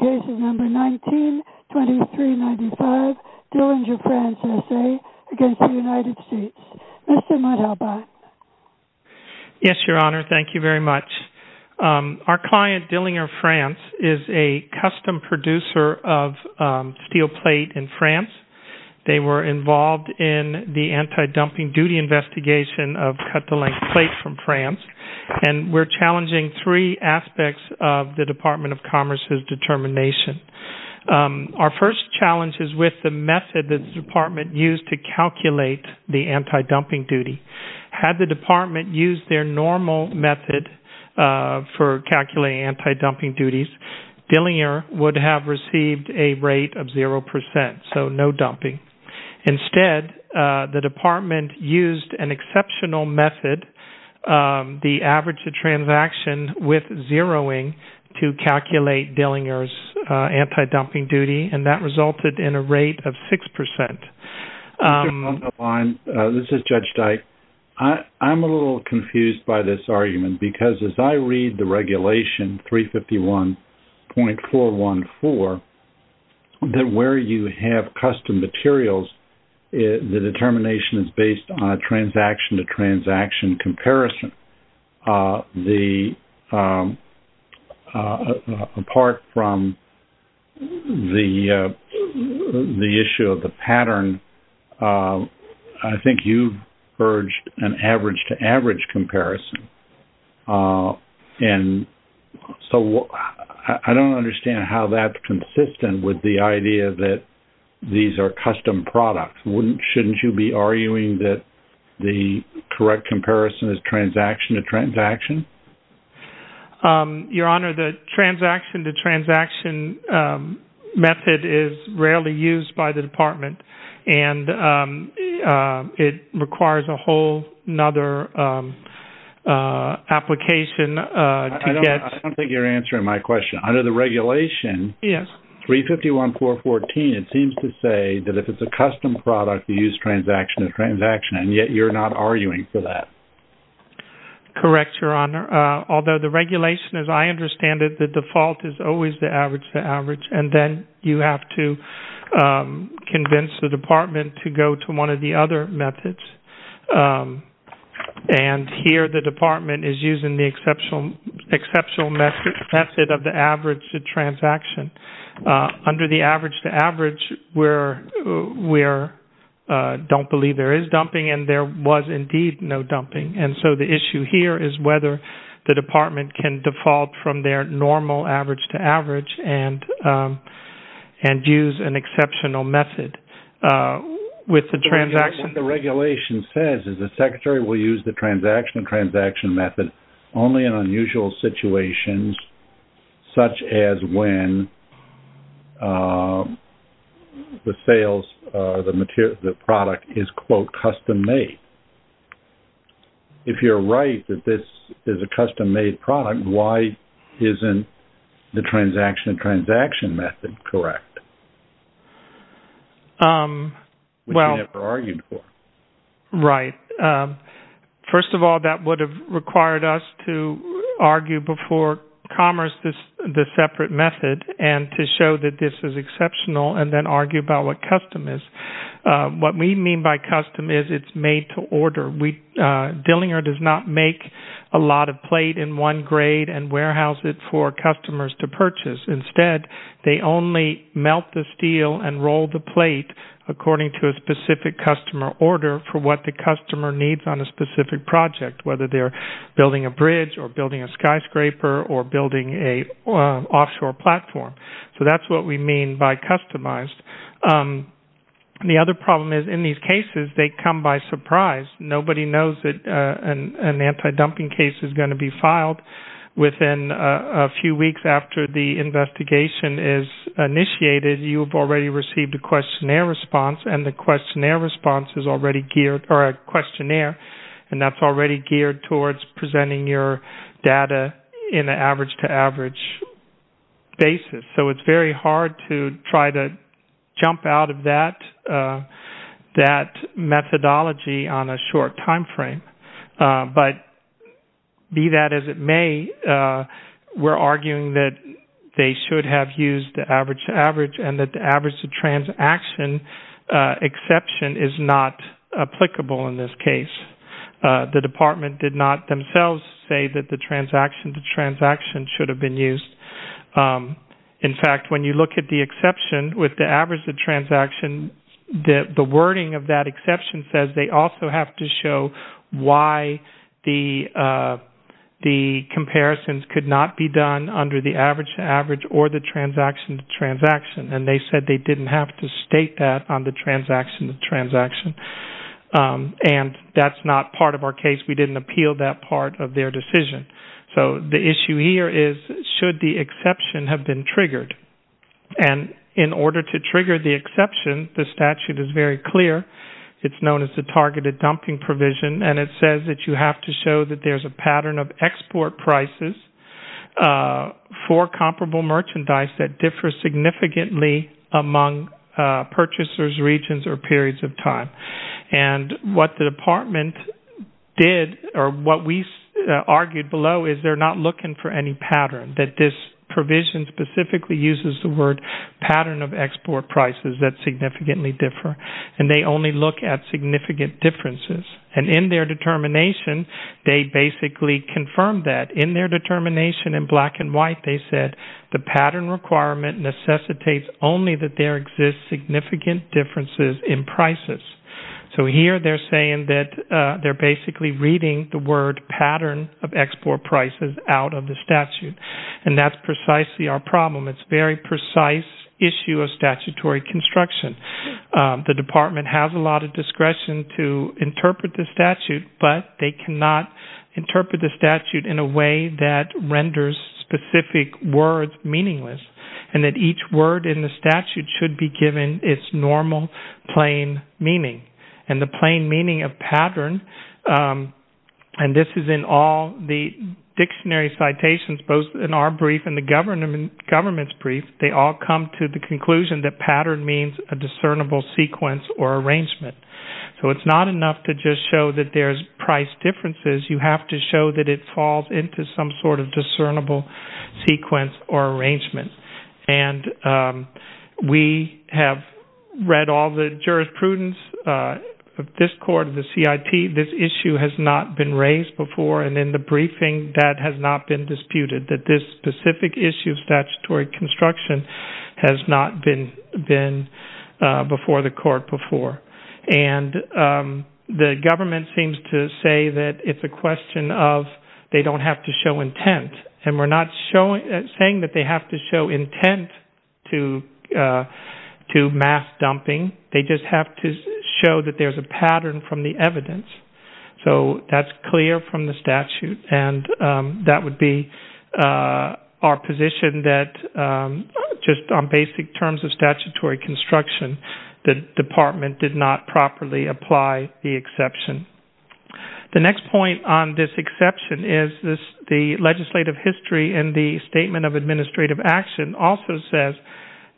Investigation Number 19-2395 Dillinger France S.A. v. United States. Mr. Mudd-Albott. Yes, Your Honor. Thank you very much. Our client, Dillinger France, is a custom producer of steel plate in France. They were involved in the anti-dumping duty investigation of cut-to-length plate from France. And we're challenging three aspects of the Department of Commerce's determination. Our first challenge is with the method the Department used to calculate the anti-dumping duty. Had the Department used their normal method for calculating anti-dumping duties, Dillinger would have received a rate of 0%, so no dumping. Instead, the Department used an exceptional method, the average transaction with zeroing, to calculate Dillinger's anti-dumping duty, and that resulted in a rate of 6%. Mr. Mudd-Albott, this is Judge Dyke. I'm a little confused by this argument, because as I read the regulation, 351.414, that where you have materials, the determination is based on a transaction-to-transaction comparison. Apart from the issue of the pattern, I think you've urged an average-to-average comparison, and so I don't understand how that's consistent with the idea that these are custom products. Shouldn't you be arguing that the correct comparison is transaction-to-transaction? Your Honor, the transaction-to-transaction method is rarely used by the Department, and it requires a whole other application to get... I don't think you're answering my question. Under the regulation, 351.414, it seems to say that if it's a custom product, you use transaction-to-transaction, and yet you're not arguing for that. Correct, Your Honor. Although the regulation, as I understand it, the default is always the average-to-average, and then you have to convince the Department to go to one of the other methods, and here the Department is using the exceptional method of the average-to-transaction. Under the average-to-average, we don't believe there is dumping, and there was indeed no dumping, and so the issue here is whether the Department can default from their normal average-to-average and use an exceptional method with the transaction. What the regulation says is the Secretary will use the transaction-to-transaction method only in unusual situations, such as when the product is, quote, custom-made. If you're right that this is a custom-made product, why isn't the transaction-to-transaction method correct, which you never argued for? Right. First of all, that would have required us to argue before Commerce the separate method and to show that this is exceptional and then argue about what custom is. What we mean by custom is it's made to order. Dillinger does not make a lot of plate in one and warehouse it for customers to purchase. Instead, they only melt the steel and roll the plate according to a specific customer order for what the customer needs on a specific project, whether they're building a bridge or building a skyscraper or building an offshore platform. That's what we mean by customized. The other problem is in these cases, they come by surprise. Nobody knows that an anti-dumping case is going to be filed. Within a few weeks after the investigation is initiated, you've already received a questionnaire response, and the questionnaire response is already geared towards presenting your data in an average-to-average basis. It's very hard to try to jump out of that methodology on a short timeframe, but be that as it may, we're arguing that they should have used the average-to-average and that the average-to-transaction exception is not applicable in this case. The department did themselves say that the transaction-to-transaction should have been used. In fact, when you look at the exception with the average-to-transaction, the wording of that exception says they also have to show why the comparisons could not be done under the average-to-average or the transaction-to-transaction, and they said they didn't have to state that on the transaction-to-transaction. That's not part of our case. We didn't appeal that part of their decision. The issue here is should the exception have been triggered? In order to trigger the exception, the statute is very clear. It's known as the targeted-dumping provision, and it says that you have to show that there's a pattern of export prices for comparable merchandise that differs significantly among purchasers, regions, or periods of time. What the department did or what we argued below is they're not looking for any pattern, that this provision specifically uses the word pattern of export prices that significantly differ, and they only look at significant differences. In their determination, they basically confirmed that. In their determination in black and white, they said the pattern requirement necessitates only that there exist significant differences in prices. So here they're saying that they're basically reading the word pattern of export prices out of the statute, and that's precisely our problem. It's a very precise issue of statutory construction. The department has a lot of discretion to interpret the statute, but they cannot interpret the statute in a way that renders specific words meaningless, and that each word in the statute should be given its normal, plain meaning. The plain meaning of pattern, and this is in all the dictionary citations, both in our brief and the government's brief, they all come to the conclusion that pattern means a discernible sequence or arrangement. So it's not enough to just show that there's price differences. You have to show that it falls into some sort of discernible sequence or arrangement. We have read all the jurisprudence of this court, of the CIT. This issue has not been raised before, and in the briefing, that has not been disputed, that this specific issue of statutory construction has not been before the court before. And the government seems to say that it's a question of they don't have to show intent, and we're not saying that they have to show intent to mass dumping. They just have to show that there's a pattern from the evidence. So that's clear from the statute, and that would be our position that just on basic terms of statutory construction, the department did not properly apply the exception. The next point on this exception is the legislative history in the Statement of Administrative Action also says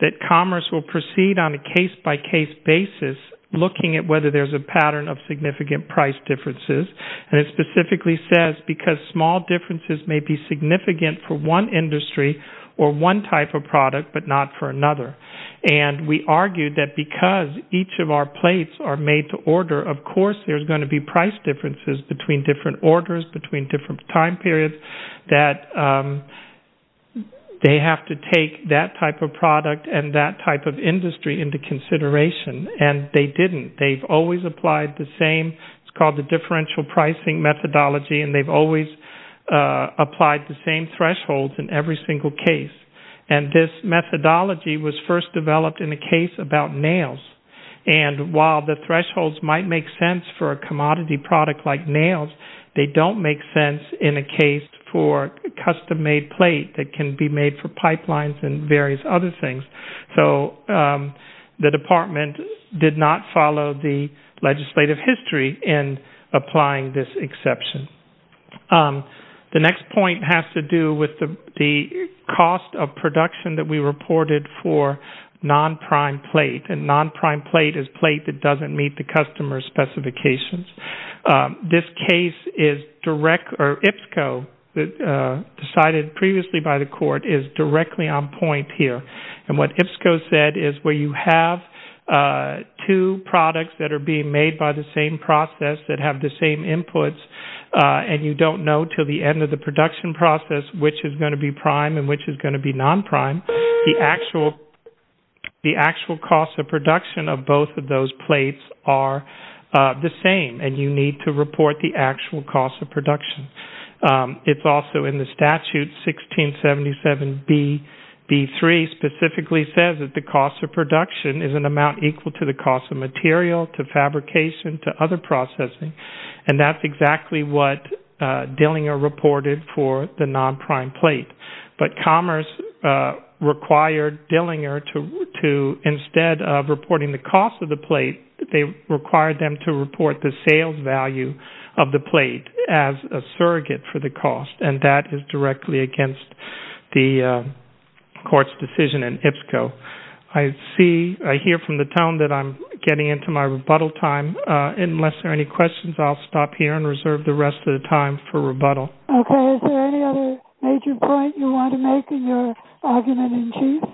that commerce will proceed on a case-by-case basis, looking at whether there's a pattern of significant price differences. And it specifically says because small differences may be significant for one industry or one type of product, but not for another. And we argue that because each of our plates are made to order, of course there's going to be price differences between different orders, between different time periods, that they have to take that type of product and that type of differential pricing methodology, and they've always applied the same thresholds in every single case. And this methodology was first developed in a case about nails. And while the thresholds might make sense for a commodity product like nails, they don't make sense in a case for a custom-made plate that can be made for pipelines and various other things. So the applying this exception. The next point has to do with the cost of production that we reported for non-prime plate. And non-prime plate is plate that doesn't meet the customer's specifications. This case is direct, or IPSCO, decided previously by the court, is directly on point here. And what IPSCO said is where you have two products that are being made by the same process that have the same inputs, and you don't know until the end of the production process which is going to be prime and which is going to be non-prime, the actual cost of production of both of those plates are the same. And you need to report the actual cost of production. It's also in the statute, 1677B3, specifically says that the cost of production is an amount equal to the cost of material, to fabrication, to other processing. And that's exactly what Dillinger reported for the non-prime plate. But Commerce required Dillinger to instead of reporting the cost of the plate, they required them to report the sales value of the plate as a surrogate for the cost. And that is directly against the court's decision in IPSCO. I see, I hear from the town that I'm getting into my rebuttal time. Unless there are any questions, I'll stop here and reserve the rest of the time for rebuttal. Okay, is there any other major point you want to make in your argument in chief?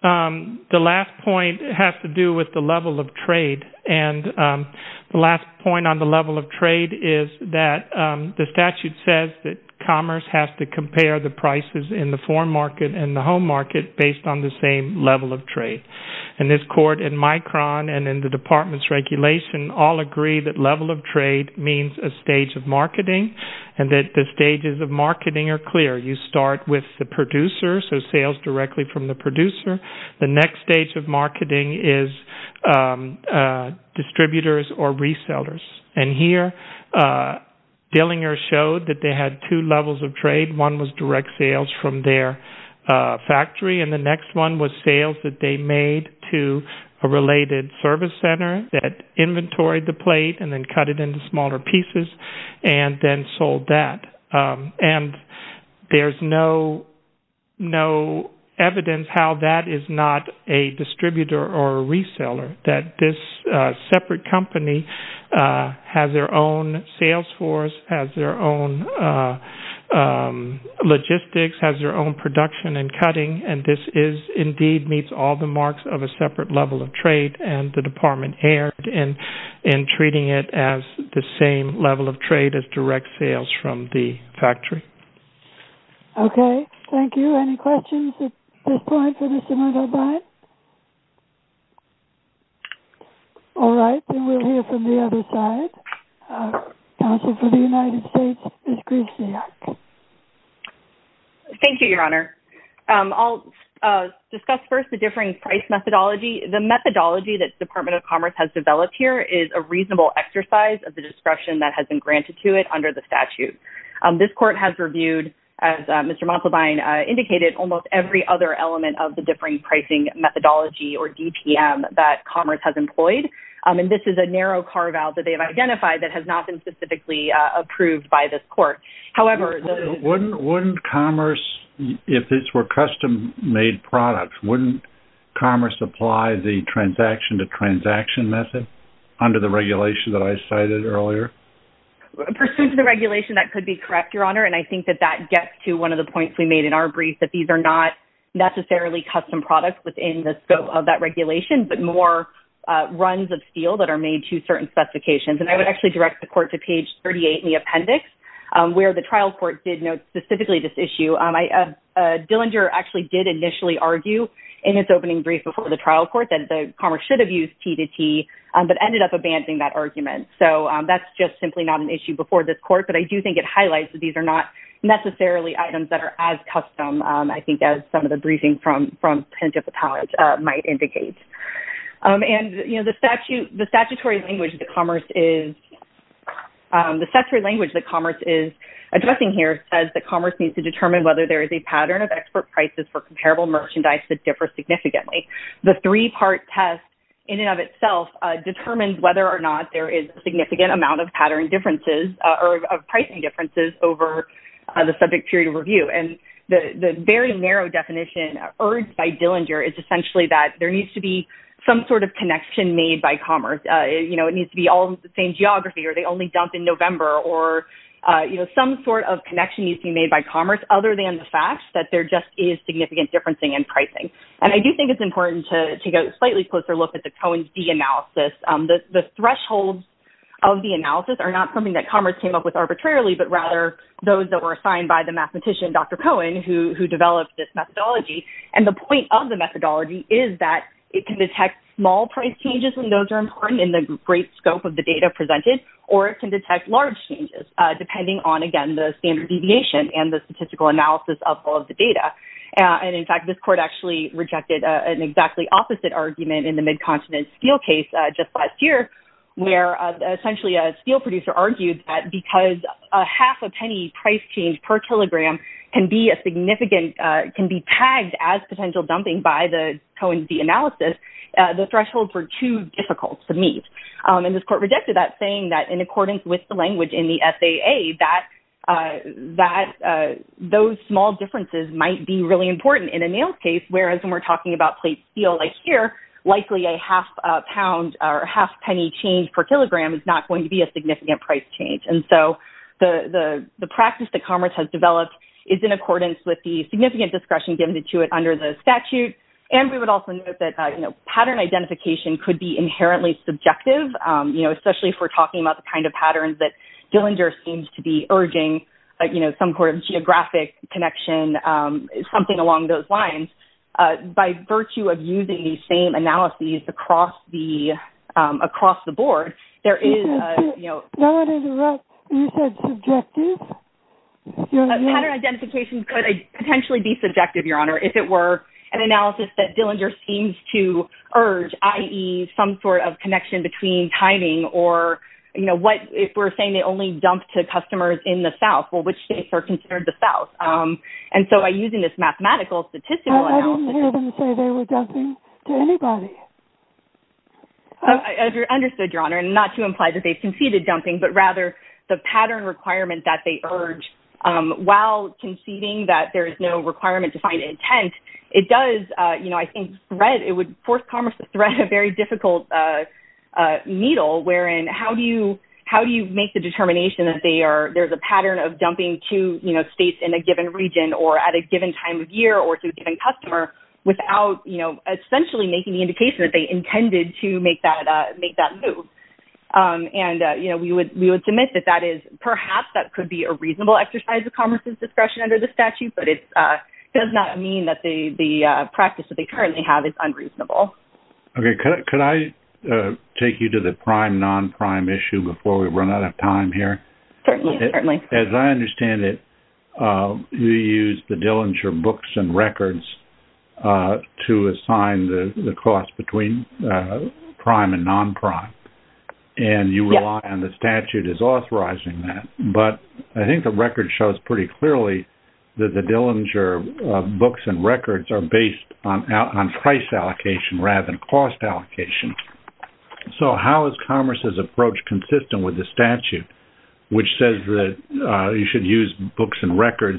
The last point has to do with the level of trade. And the last point on the level of trade is that the statute says that Commerce has to compare the prices in the foreign market and the home market based on the same level of trade. And this court in Micron and in the department's regulation all agree that level of trade means a stage of marketing and that the stages of marketing are clear. You start with the producer, so sales directly from the producer. The next stage of Dillinger showed that they had two levels of trade. One was direct sales from their factory and the next one was sales that they made to a related service center that inventoried the plate and then cut it into smaller pieces and then sold that. And there's no evidence how that is not a distributor or a reseller, that this separate company has their own sales force, has their own logistics, has their own production and cutting. And this is indeed meets all the marks of a separate level of trade and the department erred in treating it as the same level of trade as direct sales from the factory. Okay, thank you. Any questions at this point for Mr. Murdoch-Blatt? All right, then we'll hear from the other side. Counsel for the United States, Ms. Grishniak. Thank you, Your Honor. I'll discuss first the differing price methodology. The methodology that the Department of Commerce has developed here is a reasonable exercise of the discretion that has been granted to it under the statute. This court has reviewed, as Mr. Montalbain indicated, almost every other element of the differing pricing methodology, or DPM, that Commerce has employed. And this is a narrow carve-out that they have identified that has not been specifically approved by this court. However... Wouldn't Commerce, if this were custom-made products, wouldn't Commerce apply the transaction-to-transaction method under the regulation that I cited earlier? Pursuant to the regulation, that could be that these are not necessarily custom products within the scope of that regulation, but more runs of steel that are made to certain specifications. And I would actually direct the court to page 38 in the appendix, where the trial court did note specifically this issue. Dillinger actually did initially argue in its opening brief before the trial court that Commerce should have used T-to-T, but ended up abandoning that argument. So that's just simply not an issue before this court. But I do think it highlights that these are not necessarily items that are as custom, I think, as some of the briefing from Penitentiary College might indicate. And, you know, the statutory language that Commerce is addressing here says that Commerce needs to determine whether there is a pattern of expert prices for comparable merchandise that differs significantly. The three-part test in and of itself determines whether or not there is a pricing difference over the subject period of review. And the very narrow definition urged by Dillinger is essentially that there needs to be some sort of connection made by Commerce. You know, it needs to be all the same geography, or they only dump in November, or, you know, some sort of connection needs to be made by Commerce, other than the fact that there just is significant differencing in pricing. And I do think it's important to take a slightly closer look at the Cohen's D analysis. The thresholds of the analysis are not something Commerce came up with arbitrarily, but rather those that were assigned by the mathematician, Dr. Cohen, who developed this methodology. And the point of the methodology is that it can detect small price changes when those are important in the great scope of the data presented, or it can detect large changes, depending on, again, the standard deviation and the statistical analysis of all of the data. And in fact, this court actually rejected an exactly opposite argument in the Midcontinent Steel case just last year, where essentially a steel producer argued that because a half a penny price change per kilogram can be a significant, can be tagged as potential dumping by the Cohen's D analysis, the thresholds were too difficult to meet. And this court rejected that, saying that in accordance with the language in the FAA, that those small differences might be really important in a nails case, whereas when we're talking about plate steel like here, likely a half a pound or half penny change per kilogram is not going to be significant price change. And so the practice that Commerce has developed is in accordance with the significant discretion given to it under the statute. And we would also note that, you know, pattern identification could be inherently subjective, you know, especially if we're talking about the kind of patterns that Dillinger seems to be urging, you know, some sort of geographic connection, something along those lines. By virtue of using the same pattern identification could potentially be subjective, Your Honor, if it were an analysis that Dillinger seems to urge, i.e. some sort of connection between timing or, you know, what if we're saying they only dump to customers in the South, well, which states are considered the South? And so by using this mathematical statistical analysis, I didn't hear dumping, but rather the pattern requirement that they urge while conceding that there is no requirement to find intent, it does, you know, I think, it would force Commerce to thread a very difficult needle wherein how do you make the determination that there's a pattern of dumping to, you know, states in a given region or at a given time of year or to a given customer without, you know, essentially making the indication that they intended to make that move. And, you know, we would submit that that is perhaps that could be a reasonable exercise of Commerce's discretion under the statute, but it does not mean that the practice that they currently have is unreasonable. Okay. Could I take you to the prime, non-prime issue before we run out of time here? Certainly, certainly. As I understand it, you used the Dillinger books and records to assign the cost between prime and non-prime, and you rely on the statute as authorizing that, but I think the record shows pretty clearly that the Dillinger books and records are based on price allocation rather than cost allocation. So how is Commerce's approach consistent with the statute, which says that you should use books and records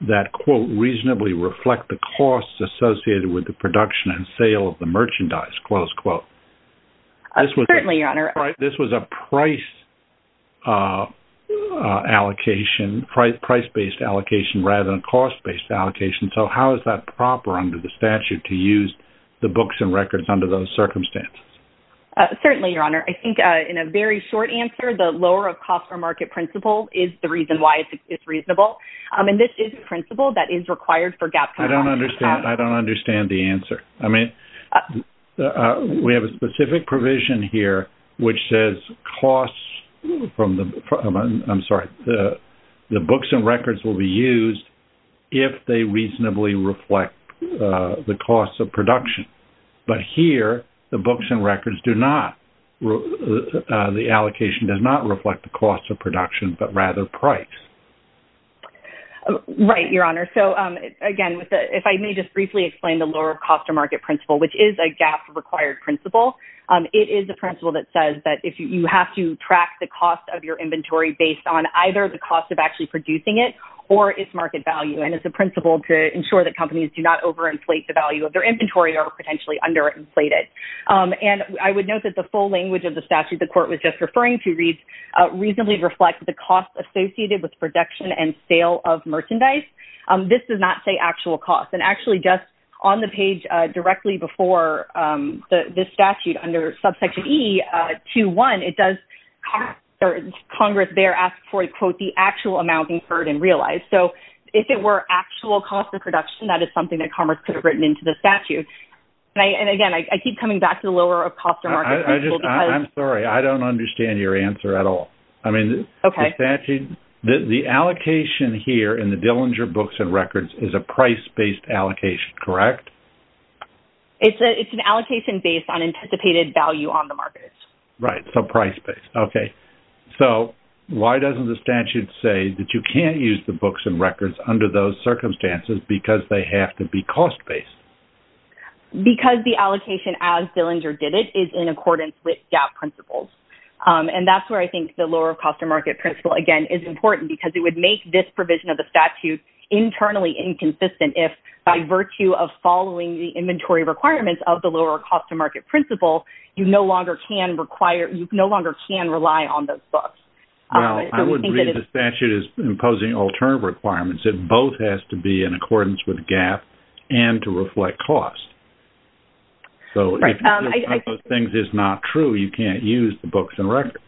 that, quote, reasonably reflect the costs associated with the production and sale of the merchandise, close quote? Certainly, Your Honor. This was a price allocation, price-based allocation rather than cost-based allocation, so how is that proper under the statute to use the books and records under those circumstances? Certainly, Your Honor. I think in a very short answer, the lower of cost or market principle is the reason why it's reasonable, and this is a principle that is required for gap compliance. I don't understand the answer. I mean, we have a specific provision here which says costs from the, I'm sorry, the books and records will be used if they reasonably reflect the costs of production. But here, the books and records do not, the allocation does not reflect the cost of production, but rather price. Right, Your Honor. So again, if I may just briefly explain the lower of cost or market principle, which is a gap-required principle. It is a principle that says that you have to track the cost of your inventory based on either the cost of actually producing it or its market value, and it's a principle to ensure that companies do not over-inflate the value of their inventory or potentially under-inflate it. And I would note that the full language of the statute the Court was just referring to reasonably reflects the costs associated with production and sale of merchandise. This does not say actual costs. And actually, just on the page directly before this statute under subsection E, 2.1, it does, Congress there asks for, quote, the actual amount incurred and realized. So if it were actual cost of production, that is something that Congress could have written into the statute. And again, I keep coming back to the lower of cost or market principle because... I'm sorry, I don't understand your answer at all. I mean, the statute, the allocation here in the Dillinger books and records is a price-based allocation, correct? It's an allocation based on anticipated value on the market. Right, so price-based. Okay. So why doesn't the statute say that you can't use the books and records under those circumstances because they have to be cost-based? Because the allocation as Dillinger did it is in accordance with GAAP principles. And that's where I think the lower cost of market principle, again, is important because it would make this provision of the statute internally inconsistent if by virtue of following the inventory requirements of the lower cost of market principle, you no longer can rely on those books. Well, I would read the statute as imposing alternative requirements. It both has to be in accordance with GAAP and to reflect cost. So if one of those things is not true, you can't use the books and records.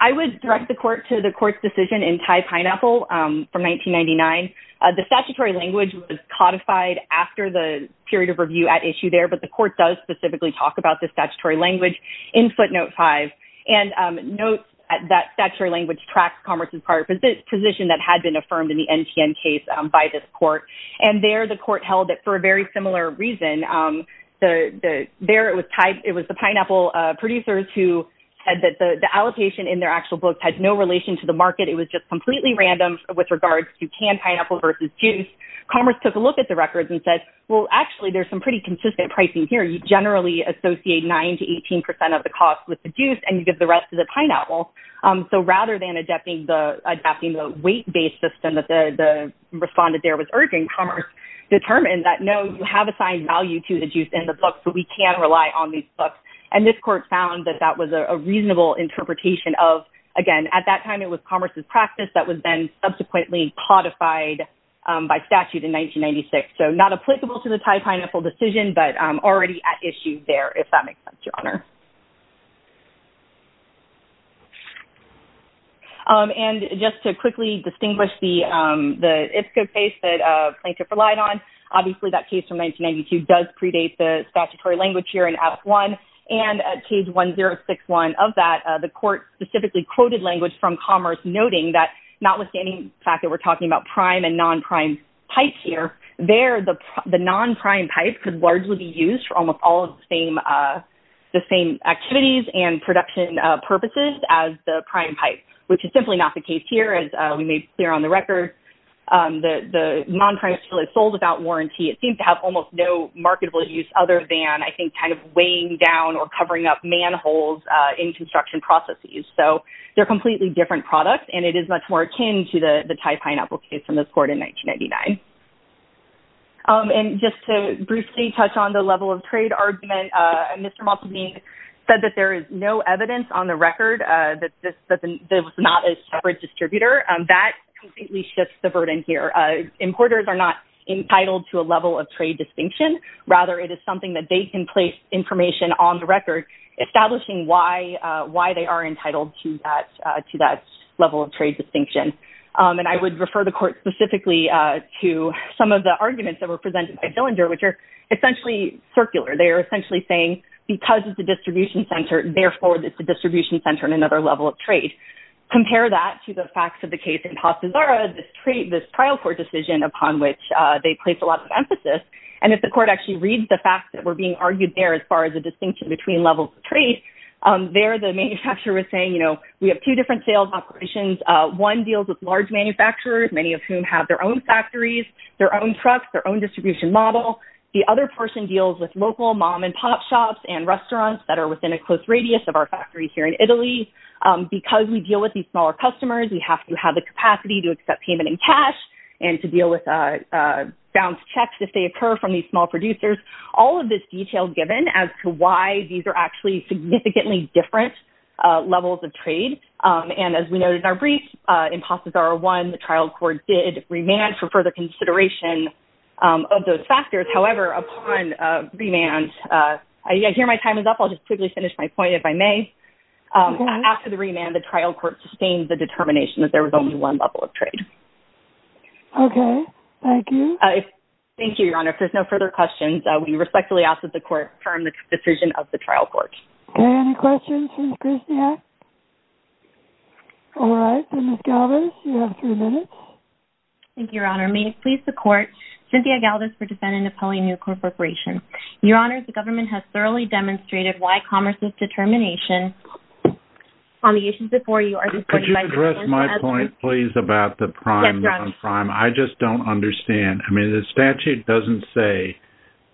I would direct the court to the court's decision in Thai Pineapple from 1999. The statutory language was codified after the period of review at issue there, but the court does specifically talk about the statutory language in footnote five. And note that statutory language tracks Congress's prior position that had been affirmed in the NTN case by this court. And there the court held it for a very similar reason. There it was the pineapple producers who said that the allocation in their actual books had no relation to the market. It was just completely random with regards to canned pineapple versus juice. Commerce took a look at the records and said, well, actually, there's some pretty consistent pricing here. You generally associate 9% to 18% of the cost with the juice and you get the rest of the pineapple. So rather than adapting the weight-based system that the respondent there was urging, Commerce determined that, no, you have assigned value to the juice in the book, so we can rely on these books. And this court found that that was a reasonable interpretation of, again, at that time it was Commerce's practice that was then subsequently codified by statute in 1996. So not applicable to the Thai Pineapple decision, but already at issue there, if that makes sense, Your Honor. And just to quickly distinguish the ISCO case that Plaintiff relied on, obviously that case from 1992 does predate the statutory language here in Act 1. And at Case 1061 of that, the court specifically quoted language from Commerce, noting that, notwithstanding the fact that we're talking about prime and non-prime pipes here, there the non-prime pipe could largely be used for almost all of the same activities and production purposes as the prime pipe, which is simply not the case here, as we made clear on the record. The non-prime pipe is sold without warranty. It seems to have almost no marketable use other than, I think, kind of weighing down or covering up manholes in construction processes. So they're completely different products and it is much more akin to the Thai Pineapple case in this court in 1999. And just to briefly touch on the level of trade argument, Mr. Maltavini said that there is no evidence on the record that this was not a separate distributor. That completely shifts the burden here. Importers are not entitled to a level of trade distinction. Rather, it is something that they can place information on the record, establishing why they are entitled to that level of trade distinction. And I would refer the court specifically to some of the arguments that were presented by Zillinger, which are essentially circular. They are essentially saying, because it's a distribution center, therefore it's a distribution center and another level of trade. Compare that to the facts of the case in Pastizara, this trial court decision upon which they placed a lot of emphasis. And if the court actually reads the facts that were being argued there as far as the distinction between levels of trade, there the manufacturer was saying, you know, we have two different sales operations. One deals with large manufacturers, many of whom have their own factories, their own trucks, their own distribution model. The other person deals with local mom and pop shops and restaurants that are within a close radius of our factories here in Italy. Because we deal with these smaller customers, we have to have the capacity to accept payment in cash and to deal with bounced checks if they occur from these small producers. All of this detail is given as to why these are actually significantly different levels of trade. And as we noted in our brief, in Pastizara 1, the trial court did remand for further consideration of those factors. However, upon remand, I hear my time is up. I'll just quickly finish my point if I may. After the remand, the trial court sustained the determination that there was only one level of trade. Okay. Thank you. Thank you, Your Honor. If there's no further questions, we respectfully ask that the court confirm the decision of the trial court. Okay. Any questions from Christia? All right. Ms. Galdas, you have three minutes. Thank you, Your Honor. May it please the court, Cynthia Galdas for defendant Napoleon New Corp Corporation. Your Honor, the government has thoroughly demonstrated why commerce's determination on the issues before you are supported by your counsel as well. Could you address my point, please, about the prime non-prime? I just don't understand. I mean, the statute doesn't say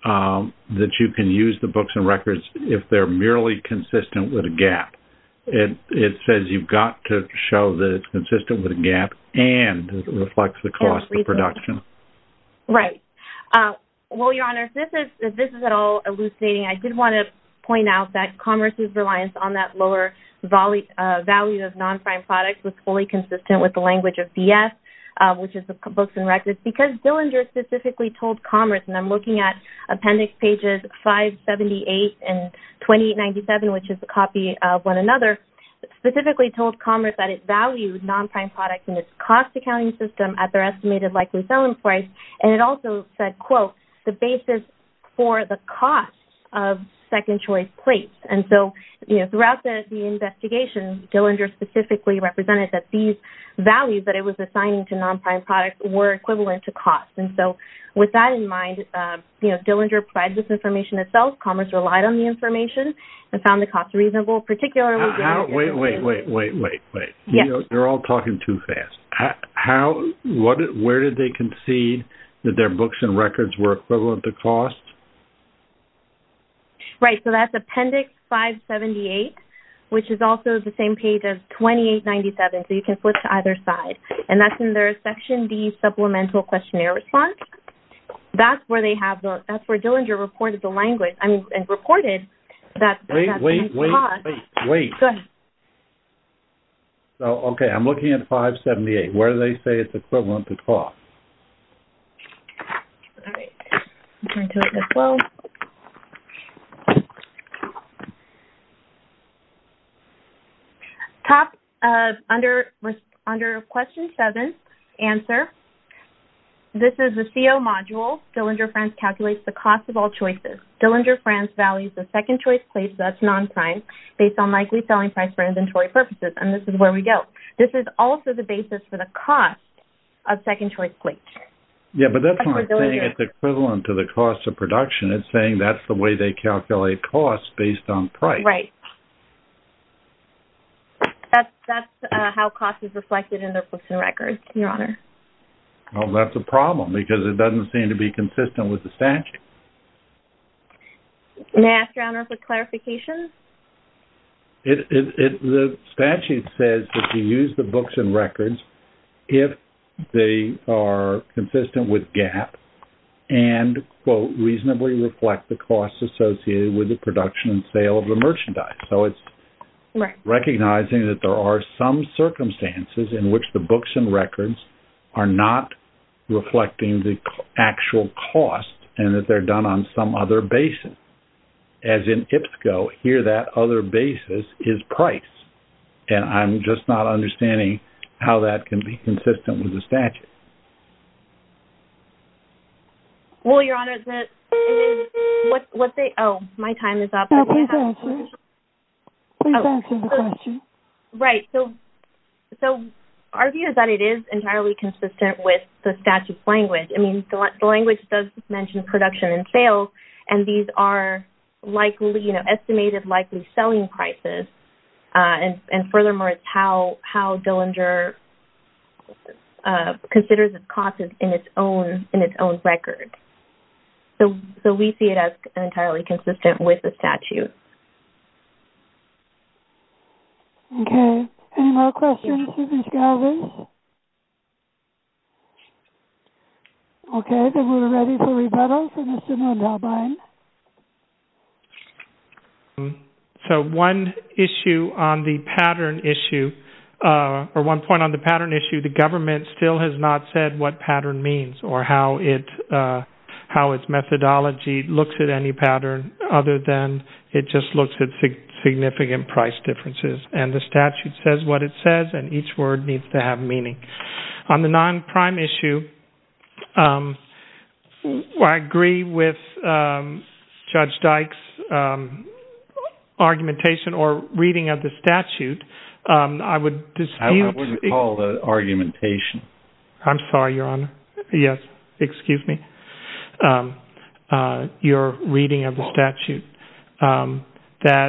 that you can use the books and records if they're merely consistent with a gap. It says you've got to show that it's consistent with a gap and reflects the cost of production. Right. Well, Your Honor, if this is at all I did want to point out that commerce's reliance on that lower value of non-prime products was fully consistent with the language of BS, which is the books and records, because Dillinger specifically told commerce, and I'm looking at appendix pages 578 and 2897, which is a copy of one another, specifically told commerce that it valued non-prime products in its cost accounting system at their estimated likely selling price. And it also said, quote, the basis for the cost of second choice plates. And so, you know, throughout the investigation, Dillinger specifically represented that these values that it was assigning to non-prime products were equivalent to cost. And so, with that in mind, you know, Dillinger provided this information itself. Commerce relied on the information and found the cost reasonable, particularly... Wait, wait, wait, wait, wait, wait. Yes. You know, they're all talking too fast. How, where did they concede that their books and records were equivalent to cost? Right. So, that's appendix 578, which is also the same page as 2897. So, you can flip to either side. And that's in their section D supplemental questionnaire response. That's where they have the... That's where Dillinger reported the language and reported that... Wait, wait, wait, wait, wait. Go ahead. So, okay. I'm looking at 578. Where do they say it's equivalent to cost? All right. I'll turn to it as well. Top... Under question seven, answer. This is the CO module. Dillinger France calculates the cost of all choices. Dillinger France values the second choice plates that's non-prime based on likely selling price for inventory purposes. And this is where we go. This is also the basis for the cost of second choice plates. Yeah, but that's not saying it's equivalent to the cost of production. It's saying that's the way they calculate costs based on price. Right. That's how cost is reflected in their books and records, Your Honor. Well, that's a problem because it doesn't seem to be consistent with the statute. May I ask Your Honor for clarification? It... The statute says that you use the books and records if they are consistent with GAP and, quote, reasonably reflect the costs associated with the production and sale of the merchandise. So, it's recognizing that there are some circumstances in which the books and records are not reflecting the actual cost and that they're done on some other basis. As in IPSCO, here that other basis is price. And I'm just not understanding how that can be consistent with the statute. Well, Your Honor, the... What they... Oh, my time is up. No, please answer. Please answer the question. Right. So, our view is that it is entirely consistent with the statute's language. I mean, the language does mention production and sales. And these are likely, you know, estimated likely selling prices. And furthermore, it's how Dillinger considers its costs in its own record. So, we see it as entirely consistent with the statute. Okay. Any more questions for Ms. Galvin? Okay. Then we're ready for rebuttal from Mr. Muldaubine. So, one issue on the pattern issue, or one point on the pattern issue, the government still has not said what pattern means or how its methodology looks at any pattern other than it just looks at significant price differences. And the statute says what it says, and each word needs to have meaning. On the non-prime issue, I agree with Judge Dyke's argumentation or reading of the statute. I would dispute... I wouldn't call that argumentation. I'm sorry, Your Honor. Yes. Excuse me. Your reading of the statute. That...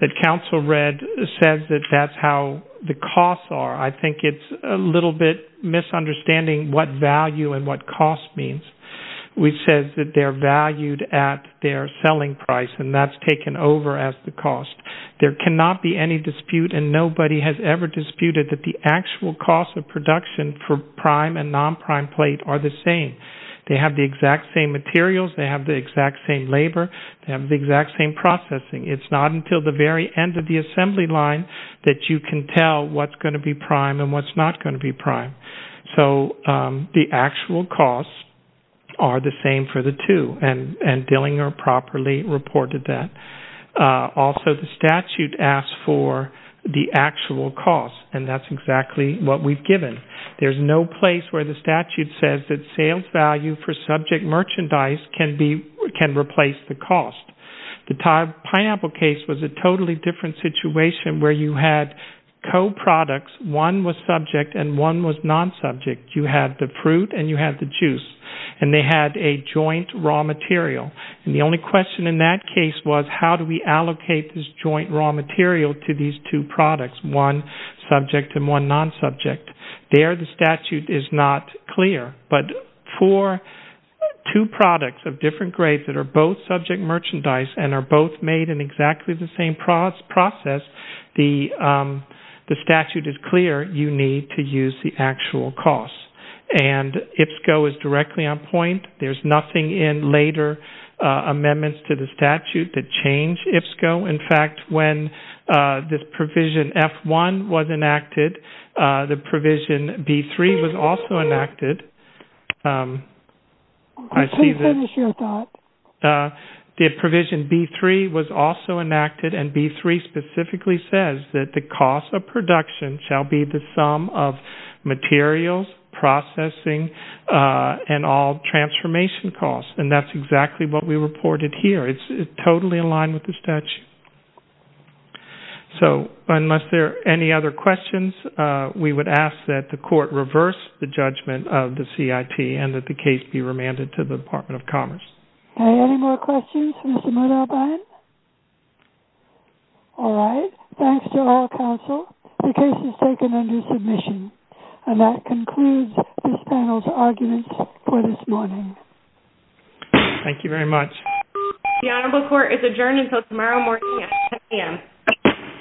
that counsel read says that that's how the costs are. I think it's a little bit misunderstanding what value and what cost means, which says that they're valued at their selling price, and that's taken over as the cost. There cannot be any dispute, and nobody has ever disputed that the actual cost of production for prime and non-prime plate are the same. They have the exact same materials. They have the exact same labor. They have the exact same processing. It's not until the very end of the assembly line that you can tell what's going to be prime and what's not going to be prime. So, the actual costs are the same for the two, and Dillinger properly reported that. Also, the statute asks for the actual cost, and that's exactly what we've given. There's no place where the statute says that sales value for subject merchandise can be... can replace the cost. The pineapple case was a totally different situation where you had co-products. One was subject and one was non-subject. You had the fruit and you had the juice, and they had a joint raw material, and the only question in that case was how do we allocate this joint raw material to these two products, one subject and one non-subject. There, the statute is not clear, but for two products of different grades that are both subject merchandise and are both made in exactly the same process, the statute is clear you need to use the actual cost. IPSCO is directly on point. There's nothing in later amendments to the statute that change IPSCO. In fact, when this provision F1 was enacted, the provision B3 was also enacted. I see that the provision B3 was also enacted, and B3 specifically says that the cost of production shall be the sum of materials, processing, and all transformation costs, and that's exactly what we reported here. It's totally in line with the statute. So, unless there are any other questions, we would ask that the court reverse the judgment of the CIT and that the case be remanded to the Department of Commerce. Any more questions for Mr. Murdoch? All right. Thanks to all counsel. The case is taken under submission, and that concludes this panel's arguments for this morning. Thank you very much. The Honorable Court is adjourned until tomorrow morning at 10 a.m.